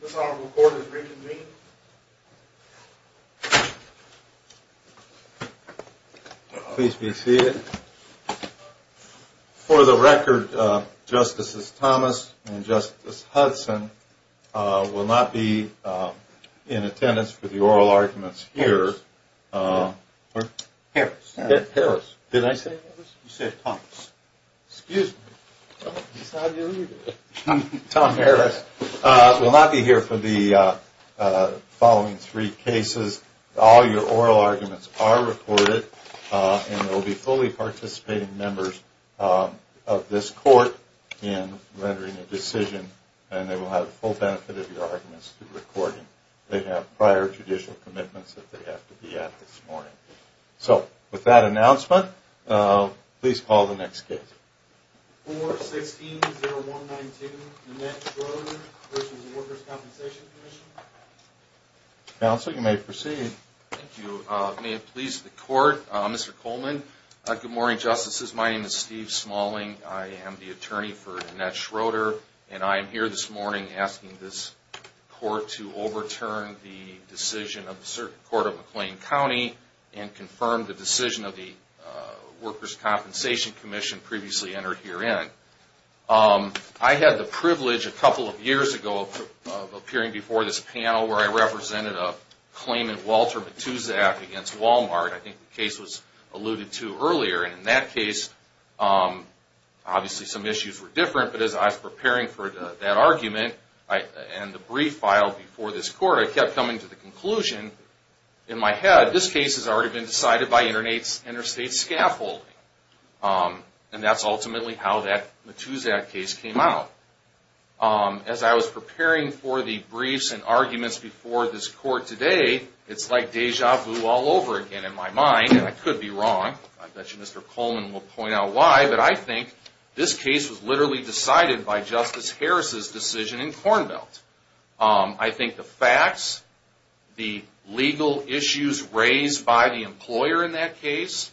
This Honorable Court is reconvening. Please be seated. For the record, Justices Thomas and Justice Hudson will not be in attendance for the oral arguments here. Harris. Harris. Harris. Did I say Harris? You said Thomas. Excuse me. Tom Harris. We'll not be here for the following three cases. All your oral arguments are recorded, and there will be fully participating members of this court in rendering a decision, and they will have the full benefit of your arguments through recording. They have prior judicial commitments that they have to be at this morning. So with that announcement, please call the next case. 416-0192, Annette Schroeder v. Workers' Compensation Commission. Counsel, you may proceed. Thank you. May it please the Court, Mr. Coleman. Good morning, Justices. My name is Steve Smalling. I am the attorney for Annette Schroeder, and I am here this morning asking this court to overturn the decision of the Circuit Court of McLean County and confirm the decision of the Workers' Compensation Commission previously entered herein. I had the privilege a couple of years ago of appearing before this panel where I represented a claimant, Walter Matuszak, against Walmart. I think the case was alluded to earlier. And in that case, obviously some issues were different. But as I was preparing for that argument and the brief filed before this court, I kept coming to the conclusion in my head, this case has already been decided by interstate scaffolding. And that's ultimately how that Matuszak case came out. As I was preparing for the briefs and arguments before this court today, it's like deja vu all over again in my mind, and I could be wrong. I bet you Mr. Coleman will point out why. But I think this case was literally decided by Justice Harris's decision in Corn Belt. I think the facts, the legal issues raised by the employer in that case,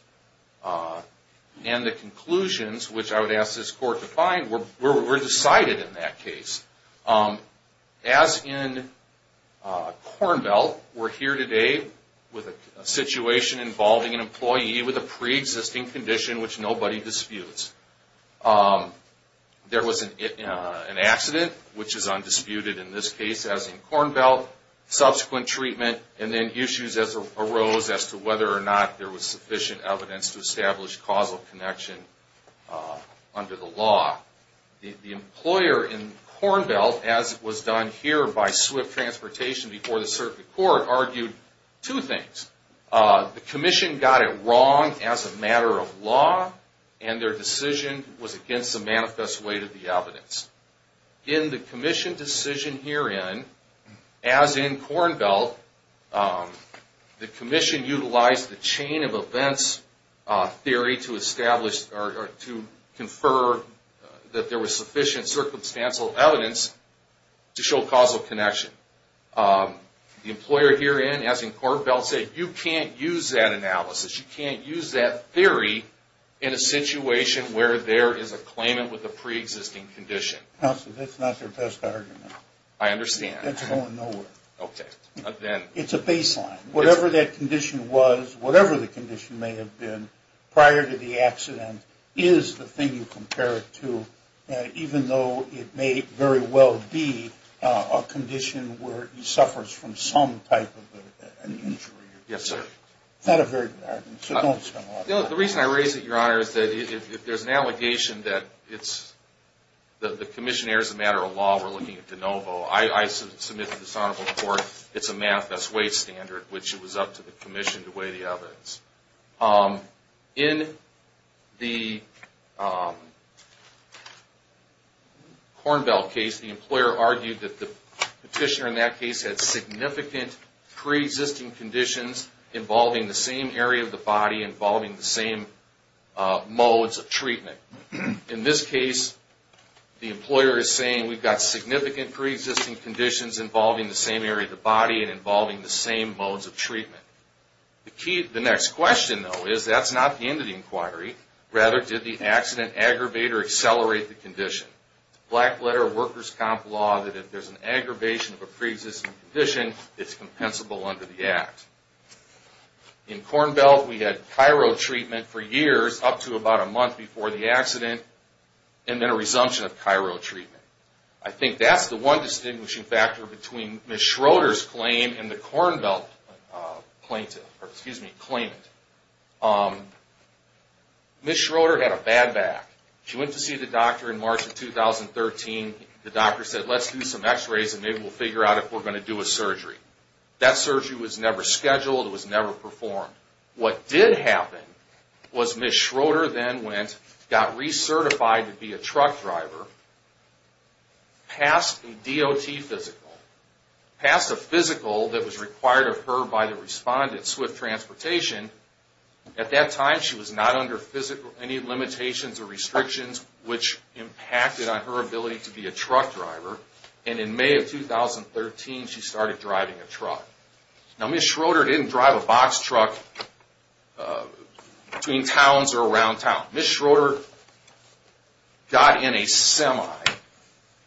and the conclusions, which I would ask this court to find, were decided in that case. As in Corn Belt, we're here today with a situation involving an employee with a pre-existing condition which nobody disputes. There was an accident, which is undisputed in this case, as in Corn Belt. Subsequent treatment, and then issues arose as to whether or not there was sufficient evidence to establish causal connection under the law. The employer in Corn Belt, as was done here by Swift Transportation before the circuit court, argued two things. The commission got it wrong as a matter of law, and their decision was against the manifest weight of the evidence. In the commission decision herein, as in Corn Belt, the commission utilized the chain of events theory to establish or to confer that there was sufficient circumstantial evidence to show causal connection. The employer herein, as in Corn Belt, said you can't use that analysis. You can't use that theory in a situation where there is a claimant with a pre-existing condition. Counsel, that's not their best argument. I understand. That's going nowhere. Okay. It's a baseline. Whatever that condition was, whatever the condition may have been prior to the accident, is the thing you compare it to, even though it may very well be a condition where he suffers from some type of an injury. Yes, sir. It's not a very good argument, so don't spend a lot of time on it. The reason I raise it, Your Honor, is that if there's an allegation that the commission errors a matter of law, we're looking at de novo. I submit to this honorable court it's a math that's way standard, which it was up to the commission to weigh the evidence. In the Corn Belt case, the employer argued that the petitioner in that case had significant pre-existing conditions involving the same area of the body, involving the same modes of treatment. In this case, the employer is saying we've got significant pre-existing conditions involving the same area of the body and involving the same modes of treatment. The next question, though, is that's not the end of the inquiry. Rather, did the accident aggravate or accelerate the condition? It's a black letter of workers' comp law that if there's an aggravation of a pre-existing condition, it's compensable under the act. In Corn Belt, we had chiro treatment for years, up to about a month before the accident, and then a resumption of chiro treatment. I think that's the one distinguishing factor between Ms. Schroeder's claim and the Corn Belt claimant. Ms. Schroeder had a bad back. She went to see the doctor in March of 2013. The doctor said, let's do some x-rays and maybe we'll figure out if we're going to do a surgery. That surgery was never scheduled. It was never performed. What did happen was Ms. Schroeder then went, got recertified to be a truck driver, passed a DOT physical, passed a physical that was required of her by the respondent, Swift Transportation. At that time, she was not under any limitations or restrictions which impacted on her ability to be a truck driver. In May of 2013, she started driving a truck. Ms. Schroeder didn't drive a box truck between towns or around town. Ms. Schroeder got in a semi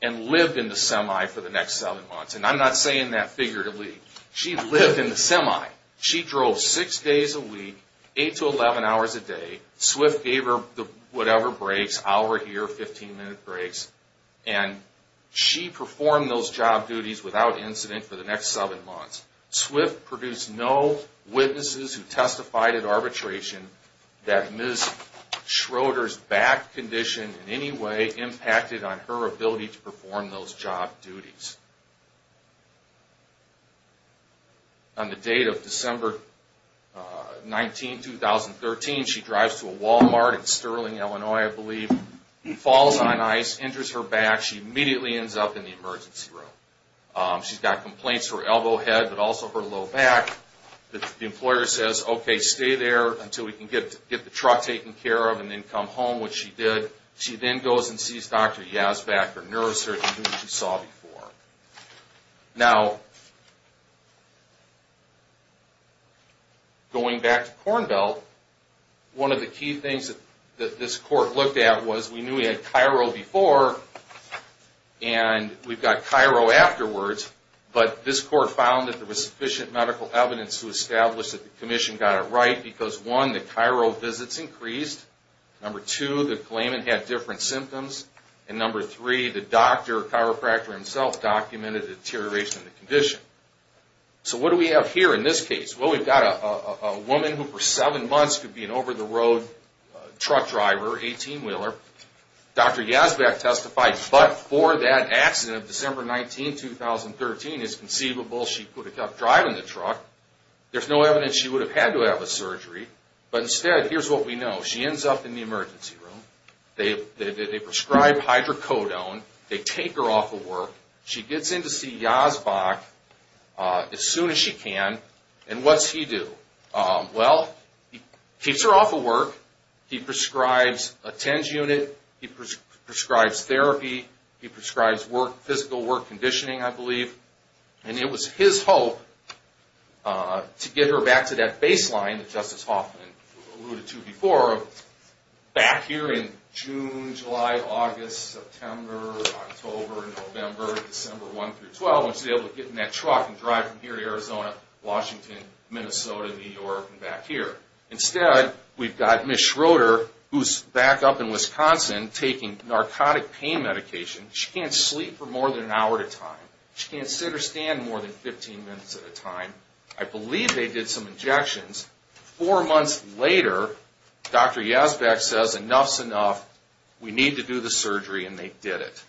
and lived in the semi for the next seven months. I'm not saying that figuratively. She lived in the semi. She drove six days a week, eight to 11 hours a day. Swift gave her whatever breaks, hour, year, 15-minute breaks. She performed those job duties without incident for the next seven months. Swift produced no witnesses who testified at arbitration that Ms. Schroeder's back condition in any way impacted on her ability to perform those job duties. On the date of December 19, 2013, she drives to a Walmart in Sterling, Illinois, I believe, falls on ice, injures her back. She immediately ends up in the emergency room. She's got complaints to her elbow head but also her low back. The employer says, okay, stay there until we can get the truck taken care of and then come home, which she did. She then goes and sees Dr. Yazback, her neurosurgeon, who you saw before. Now, going back to Kornbelt, one of the key things that this court looked at was we knew we had Cairo before and we've got Cairo afterwards. But this court found that there was sufficient medical evidence to establish that the commission got it right because, one, the Cairo visits increased. Number two, the claimant had different symptoms. And number three, the doctor, chiropractor himself, documented deterioration of the condition. So what do we have here in this case? Well, we've got a woman who for seven months could be an over-the-road truck driver, 18-wheeler. Dr. Yazback testified, but for that accident of December 19, 2013, it's conceivable she could have kept driving the truck. There's no evidence she would have had to have a surgery. But instead, here's what we know. She ends up in the emergency room. They prescribe hydrocodone. They take her off of work. She gets in to see Yazback as soon as she can. And what's he do? Well, he keeps her off of work. He prescribes a TENS unit. He prescribes therapy. He prescribes work, physical work, conditioning, I believe. And it was his hope to get her back to that baseline that Justice Hoffman alluded to before, back here in June, July, August, September, October, November, December 1 through 12, when she was able to get in that truck and drive from here to Arizona, Washington, Minnesota, New York, and back here. Instead, we've got Ms. Schroeder, who's back up in Wisconsin taking narcotic pain medication. She can't sleep for more than an hour at a time. She can't sit or stand more than 15 minutes at a time. I believe they did some injections. Four months later, Dr. Yazback says, enough's enough. We need to do the surgery. And they did it.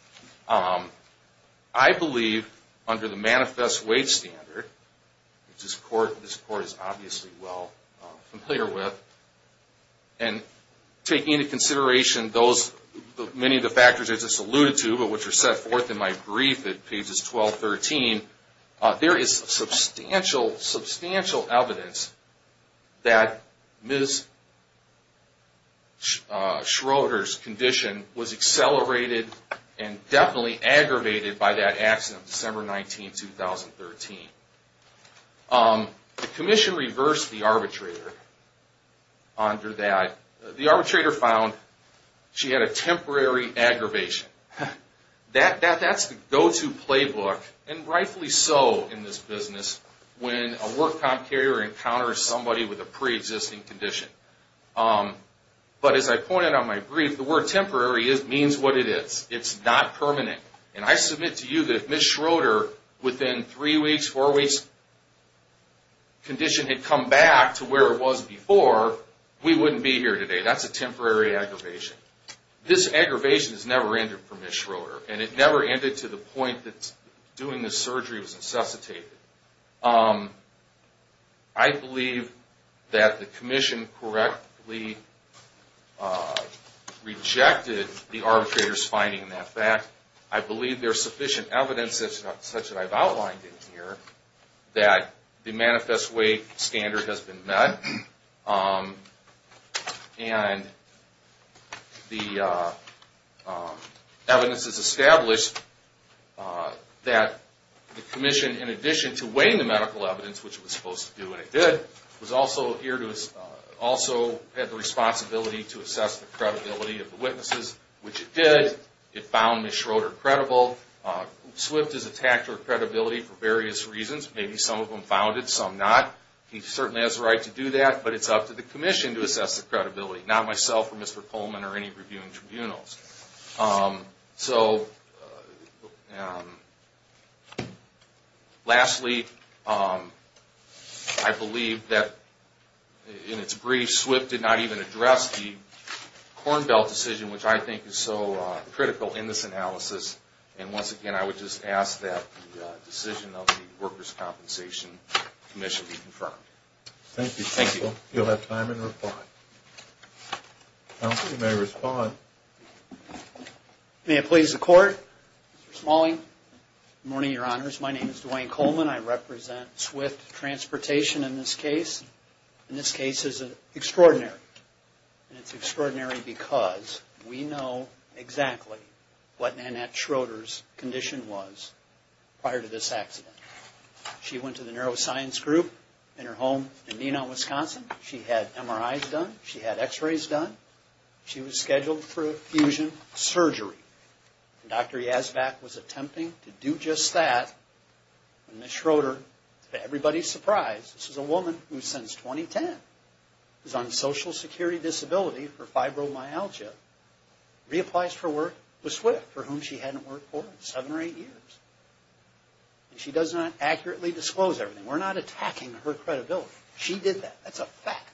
I believe, under the Manifest Weight Standard, which this Court is obviously well familiar with, and taking into consideration many of the factors I just alluded to, but which are set forth in my brief at pages 12, 13, there is substantial, substantial evidence that Ms. Schroeder's condition was accelerated and definitely aggravated by that accident, December 19, 2013. The Commission reversed the arbitrator under that. The arbitrator found she had a temporary aggravation. That's the go-to playbook, and rightfully so in this business, when a work comp carrier encounters somebody with a preexisting condition. But as I pointed out in my brief, the word temporary means what it is. It's not permanent. And I submit to you that if Ms. Schroeder, within three weeks, four weeks, if this condition had come back to where it was before, we wouldn't be here today. That's a temporary aggravation. This aggravation has never ended for Ms. Schroeder, and it never ended to the point that doing this surgery was necessitated. I believe that the Commission correctly rejected the arbitrator's finding in that fact. I believe there's sufficient evidence, such that I've outlined in here, that the manifest weight standard has been met, and the evidence is established that the Commission, in addition to weighing the medical evidence, which it was supposed to do, and it did, was also here to, also had the responsibility to assess the credibility of the witnesses, which it did. It found Ms. Schroeder credible. Swift is attacked for credibility for various reasons. Maybe some of them found it, some not. He certainly has the right to do that, but it's up to the Commission to assess the credibility, not myself or Mr. Coleman or any reviewing tribunals. So, lastly, I believe that in its brief, Ms. Swift did not even address the Corn Belt decision, which I think is so critical in this analysis, and once again, I would just ask that the decision of the Workers' Compensation Commission be confirmed. Thank you, counsel. Thank you. You'll have time in reply. Counsel, you may respond. May it please the Court? Mr. Smalling. Good morning, Your Honors. My name is Dwayne Coleman. I represent Swift Transportation in this case. And this case is extraordinary. And it's extraordinary because we know exactly what Nanette Schroeder's condition was prior to this accident. She went to the Neuroscience Group in her home in Nenon, Wisconsin. She had MRIs done. She had x-rays done. She was scheduled for fusion surgery. Dr. Yazback was attempting to do just that when Ms. Schroeder, to everybody's surprise, this is a woman who since 2010 is on social security disability for fibromyalgia, reapplies for work with Swift, for whom she hadn't worked for seven or eight years. And she does not accurately disclose everything. We're not attacking her credibility. She did that. That's a fact.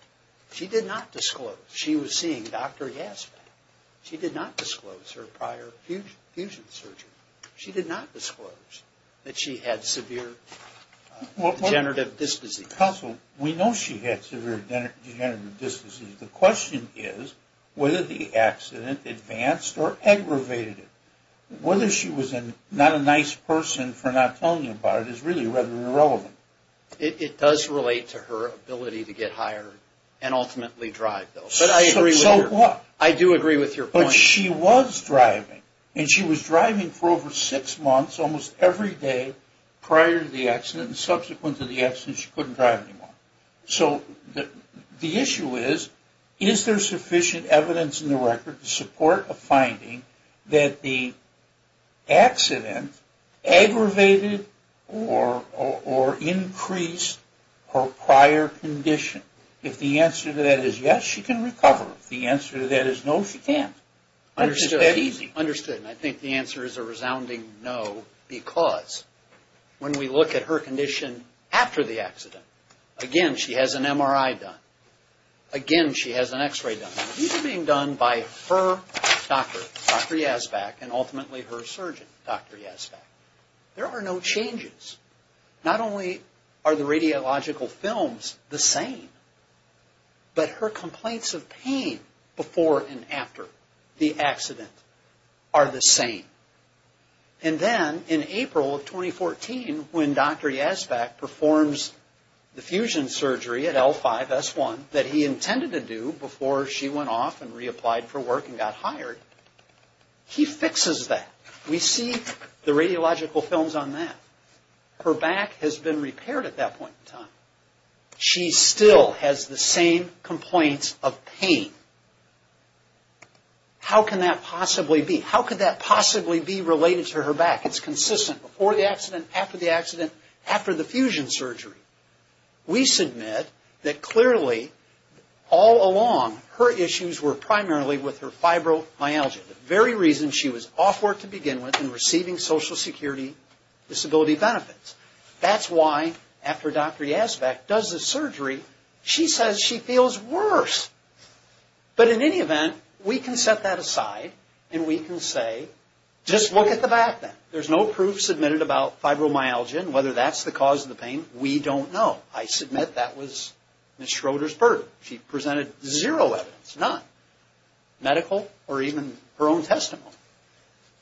She did not disclose she was seeing Dr. Yazback. She did not disclose her prior fusion surgery. She did not disclose that she had severe degenerative disc disease. Counsel, we know she had severe degenerative disc disease. The question is whether the accident advanced or aggravated it. Whether she was not a nice person for not telling you about it is really rather irrelevant. It does relate to her ability to get hired and ultimately drive, though. So what? I do agree with your point. But she was driving. And she was driving for over six months almost every day prior to the accident and subsequent to the accident she couldn't drive anymore. So the issue is, is there sufficient evidence in the record to support a finding that the accident aggravated or increased her prior condition? If the answer to that is yes, she can recover. If the answer to that is no, she can't. It's that easy. Understood. And I think the answer is a resounding no because when we look at her condition after the accident, again, she has an MRI done. Again, she has an X-ray done. These are being done by her doctor, Dr. Yazback, and ultimately her surgeon, Dr. Yazback. There are no changes. Not only are the radiological films the same, but her complaints of pain before and after the accident are the same. And then in April of 2014, when Dr. Yazback performs the fusion surgery at L5-S1 that he intended to do before she went off and reapplied for work and got hired, he fixes that. We see the radiological films on that. Her back has been repaired at that point in time. She still has the same complaints of pain. How can that possibly be? How could that possibly be related to her back? It's consistent before the accident, after the accident, after the fusion surgery. We submit that clearly all along her issues were primarily with her fibromyalgia, the very reason she was off work to begin with and receiving Social Security Disability benefits. That's why after Dr. Yazback does the surgery, she says she feels worse. But in any event, we can set that aside and we can say, just look at the back then. There's no proof submitted about fibromyalgia and whether that's the cause of the pain. We don't know. I submit that was Ms. Schroeder's burden. She presented zero evidence, none. Medical or even her own testimony.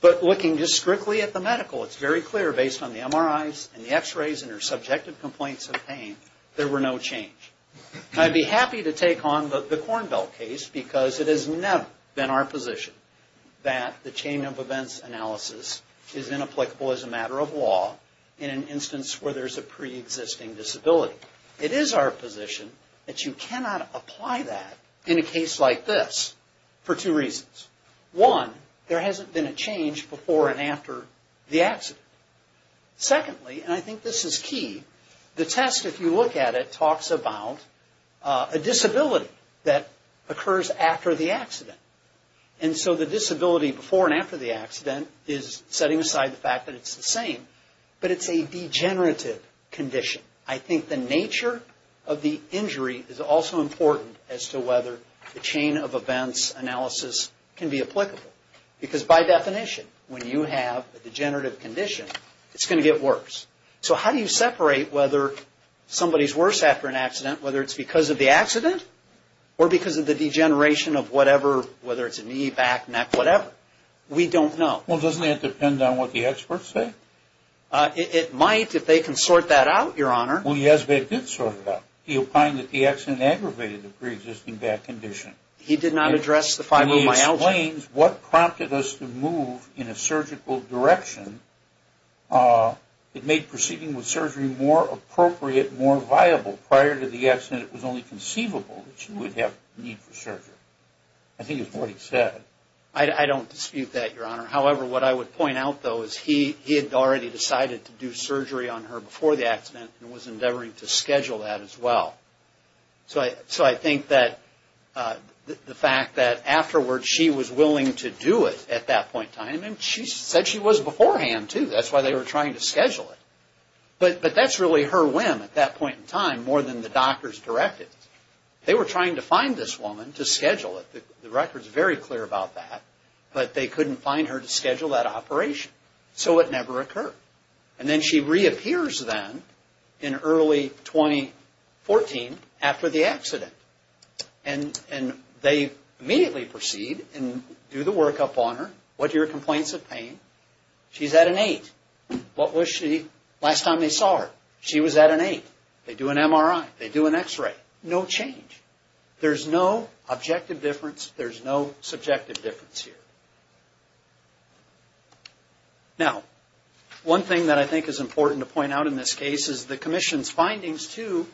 But looking just strictly at the medical, it's very clear based on the MRIs and the X-rays and her subjective complaints of pain, there were no change. I'd be happy to take on the Cornbell case because it has never been our position that the chain of events analysis is inapplicable as a matter of law in an instance where there's a preexisting disability. It is our position that you cannot apply that in a case like this for two reasons. One, there hasn't been a change before and after the accident. Secondly, and I think this is key, the test, if you look at it, talks about a disability that occurs after the accident. And so the disability before and after the accident is setting aside the fact that it's the same, but it's a degenerative condition. I think the nature of the injury is also important as to whether the chain of events analysis can be applicable. Because by definition, when you have a degenerative condition, it's going to get worse. So how do you separate whether somebody's worse after an accident, whether it's because of the accident or because of the degeneration of whatever, whether it's a knee, back, neck, whatever? We don't know. Well, doesn't that depend on what the experts say? It might if they can sort that out, Your Honor. Well, yes, they did sort it out. He opined that the accident aggravated the preexisting back condition. He did not address the fibromyalgia. And he explains what prompted us to move in a surgical direction. It made proceeding with surgery more appropriate, more viable. Prior to the accident, it was only conceivable that you would have need for surgery. I think it's what he said. I don't dispute that, Your Honor. However, what I would point out, though, is he had already decided to do surgery on her before the accident and was endeavoring to schedule that as well. So I think that the fact that afterwards she was willing to do it at that point in time, and she said she was beforehand, too. That's why they were trying to schedule it. But that's really her whim at that point in time more than the doctor's directive. They were trying to find this woman to schedule it. The record's very clear about that. But they couldn't find her to schedule that operation. So it never occurred. And then she reappears then in early 2014 after the accident. And they immediately proceed and do the workup on her. What are your complaints of pain? She's at an eight. What was she last time they saw her? She was at an eight. They do an MRI. They do an X-ray. No change. There's no objective difference. There's no subjective difference here. Now, one thing that I think is important to point out in this case is the commission's findings, too,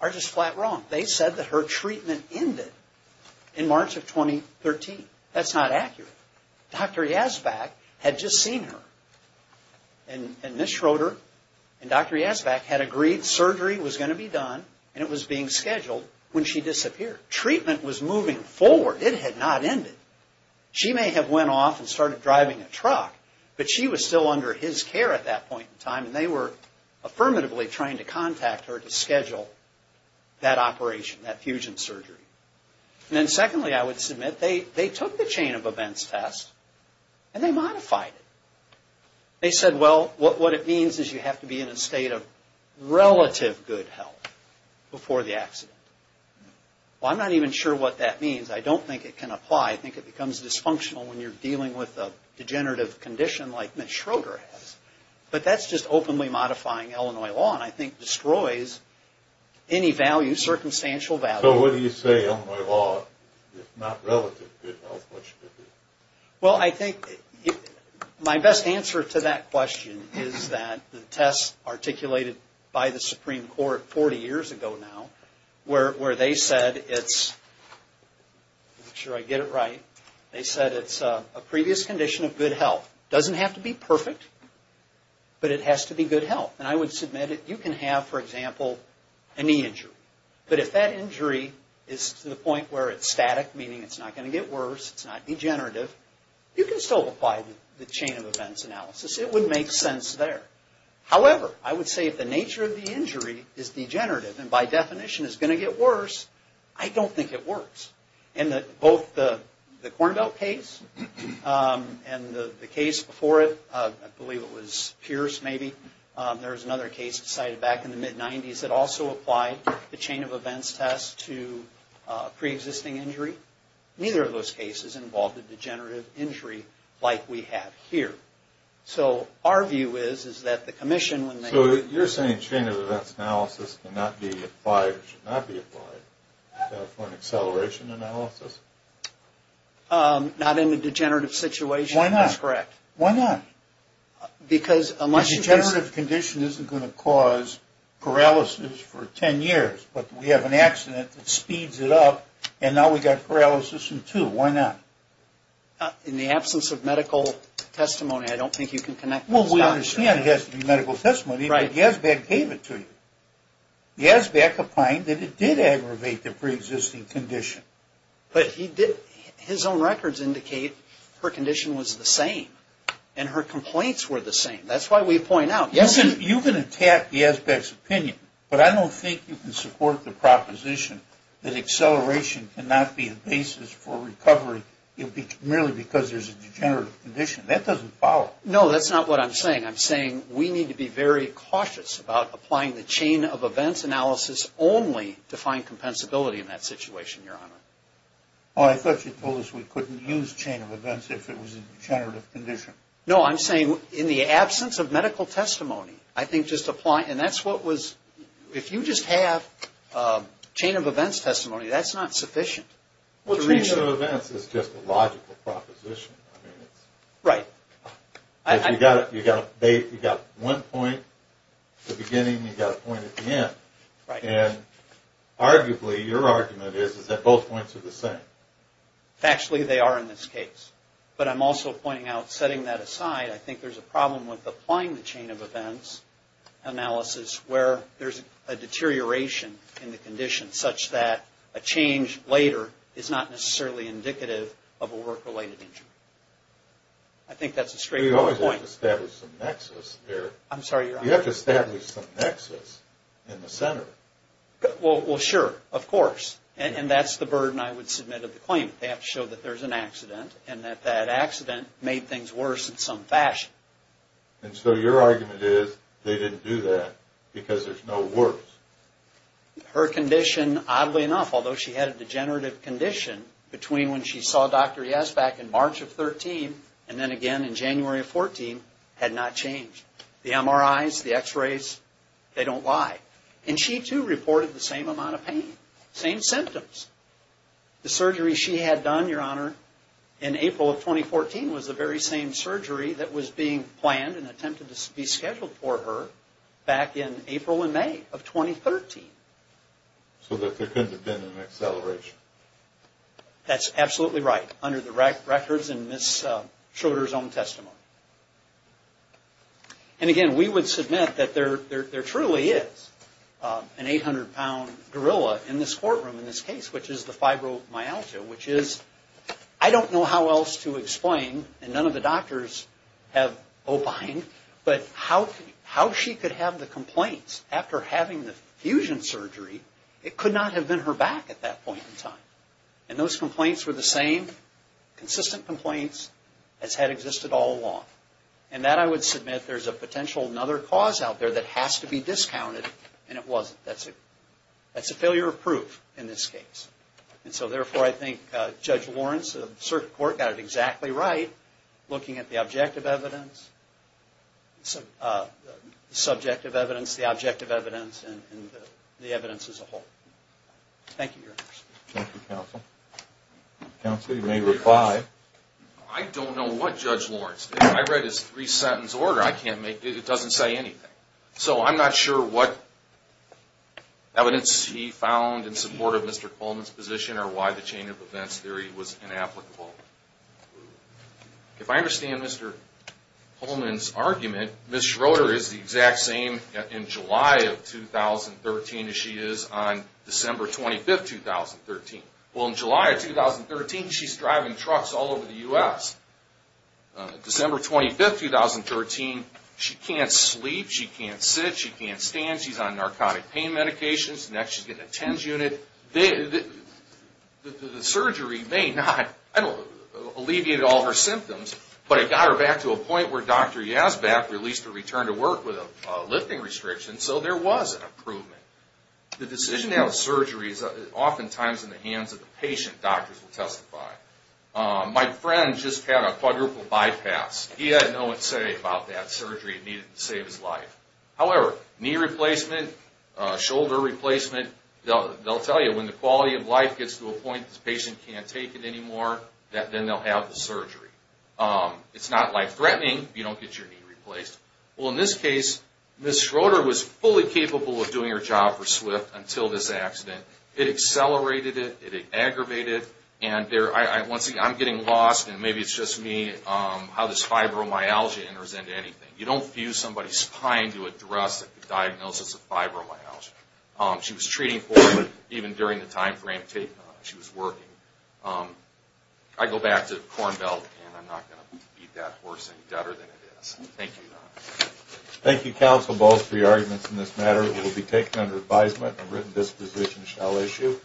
are just flat wrong. They said that her treatment ended in March of 2013. That's not accurate. Dr. Yazback had just seen her. And Ms. Schroeder and Dr. Yazback had agreed surgery was going to be done, and it was being scheduled when she disappeared. Treatment was moving forward. It had not ended. She may have went off and started driving a truck, but she was still under his care at that point in time, and they were affirmatively trying to contact her to schedule that operation, that fusion surgery. And then secondly, I would submit, they took the chain of events test, and they modified it. They said, well, what it means is you have to be in a state of relative good health before the accident. Well, I'm not even sure what that means. I don't think it can apply. I think it becomes dysfunctional when you're dealing with a degenerative condition like Ms. Schroeder has. But that's just openly modifying Illinois law, and I think destroys any value, circumstantial value. So what do you say Illinois law is not relative good health? Well, I think my best answer to that question is that the test articulated by the Supreme Court 40 years ago now, where they said it's, make sure I get it right, they said it's a previous condition of good health. It doesn't have to be perfect, but it has to be good health. And I would submit it. You can have, for example, a knee injury. But if that injury is to the point where it's static, meaning it's not going to get worse, it's not degenerative, you can still apply the chain of events analysis. It would make sense there. However, I would say if the nature of the injury is degenerative and by definition is going to get worse, I don't think it works. In both the Corn Belt case and the case before it, I believe it was Pierce maybe, there was another case decided back in the mid-90s that also applied the chain of events test to preexisting injury. Neither of those cases involved a degenerative injury like we have here. So our view is, is that the commission when they... So you're saying chain of events analysis cannot be applied, should not be applied for an acceleration analysis? Not in a degenerative situation is correct. Why not? Why not? Because a much... A degenerative condition isn't going to cause paralysis for 10 years, but we have an accident that speeds it up and now we've got paralysis in two. Why not? In the absence of medical testimony, I don't think you can connect those dots. Well, we understand it has to be medical testimony, but Yazbeck gave it to you. Yazbeck opined that it did aggravate the preexisting condition. But he did... His own records indicate her condition was the same and her complaints were the same. That's why we point out... You can attack Yazbeck's opinion, but I don't think you can support the proposition that acceleration cannot be a basis for recovery merely because there's a degenerative condition. That doesn't follow. No, that's not what I'm saying. I'm saying we need to be very cautious about applying the chain of events analysis only to find compensability in that situation, Your Honor. Well, I thought you told us we couldn't use chain of events if it was a degenerative condition. No, I'm saying in the absence of medical testimony, I think just applying... And that's what was... If you just have chain of events testimony, that's not sufficient. Well, chain of events is just a logical proposition. Right. You've got one point at the beginning and you've got a point at the end. Right. And arguably, your argument is that both points are the same. Factually, they are in this case. But I'm also pointing out, setting that aside, I think there's a problem with applying the chain of events analysis where there's a deterioration in the condition such that a change later is not necessarily indicative of a work-related injury. I think that's a straightforward point. You always have to establish some nexus there. I'm sorry, Your Honor. You have to establish some nexus in the center. Well, sure. Of course. And that's the burden I would submit of the claimant. They have to show that there's an accident and that that accident made things worse in some fashion. And so your argument is they didn't do that because there's no worse. Her condition, oddly enough, although she had a degenerative condition, between when she saw Dr. Yes back in March of 2013 and then again in January of 2014, had not changed. The MRIs, the X-rays, they don't lie. And she too reported the same amount of pain, same symptoms. The surgery she had done, Your Honor, in April of 2014 was the very same surgery that was being planned and attempted to be scheduled for her back in April and May of 2013. So there couldn't have been an acceleration. That's absolutely right, under the records in Ms. Schroeder's own testimony. And again, we would submit that there truly is an 800-pound gorilla in this courtroom in this case, which is the fibromyalgia, which is, I don't know how else to explain, and none of the doctors have opined, but how she could have the complaints after having the fusion surgery, it could not have been her back at that point in time. And those complaints were the same consistent complaints as had existed all along. And that I would submit there's a potential another cause out there that has to be discounted, and it wasn't. That's a failure of proof in this case. And so therefore, I think Judge Lawrence of the Circuit Court got it exactly right, looking at the objective evidence, the subjective evidence, the objective evidence, and the evidence as a whole. Thank you, Your Honor. Thank you, Counsel. Counsel, you may reply. I don't know what Judge Lawrence did. I read his three-sentence order. It doesn't say anything. So I'm not sure what evidence he found in support of Mr. Coleman's position or why the chain of events theory was inapplicable. If I understand Mr. Coleman's argument, Ms. Schroeder is the exact same in July of 2013 as she is on December 25, 2013. Well, in July of 2013, she's driving trucks all over the U.S. December 25, 2013, she can't sleep. She can't sit. She can't stand. She's on narcotic pain medications. Next, she's getting a TENS unit. The surgery may not have alleviated all her symptoms, but it got her back to a point where Dr. Yazback released her return to work with a lifting restriction, so there was an improvement. The decision to have a surgery is oftentimes in the hands of the patient. Doctors will testify. My friend just had a quadruple bypass. He had no say about that surgery. It needed to save his life. However, knee replacement, shoulder replacement, they'll tell you when the quality of life gets to a point that the patient can't take it anymore, then they'll have the surgery. It's not life-threatening if you don't get your knee replaced. Well, in this case, Ms. Schroeder was fully capable of doing her job for SWIFT until this accident. It accelerated it. It aggravated it. Once again, I'm getting lost, and maybe it's just me, how this fibromyalgia enters into anything. You don't fuse somebody's spine to address a diagnosis of fibromyalgia. She was treating for it even during the time frame she was working. I go back to the Corn Belt, and I'm not going to beat that horse any better than it is. Thank you. Thank you, counsel, both for your arguments in this matter. It will be taken under advisement. A written disposition shall issue.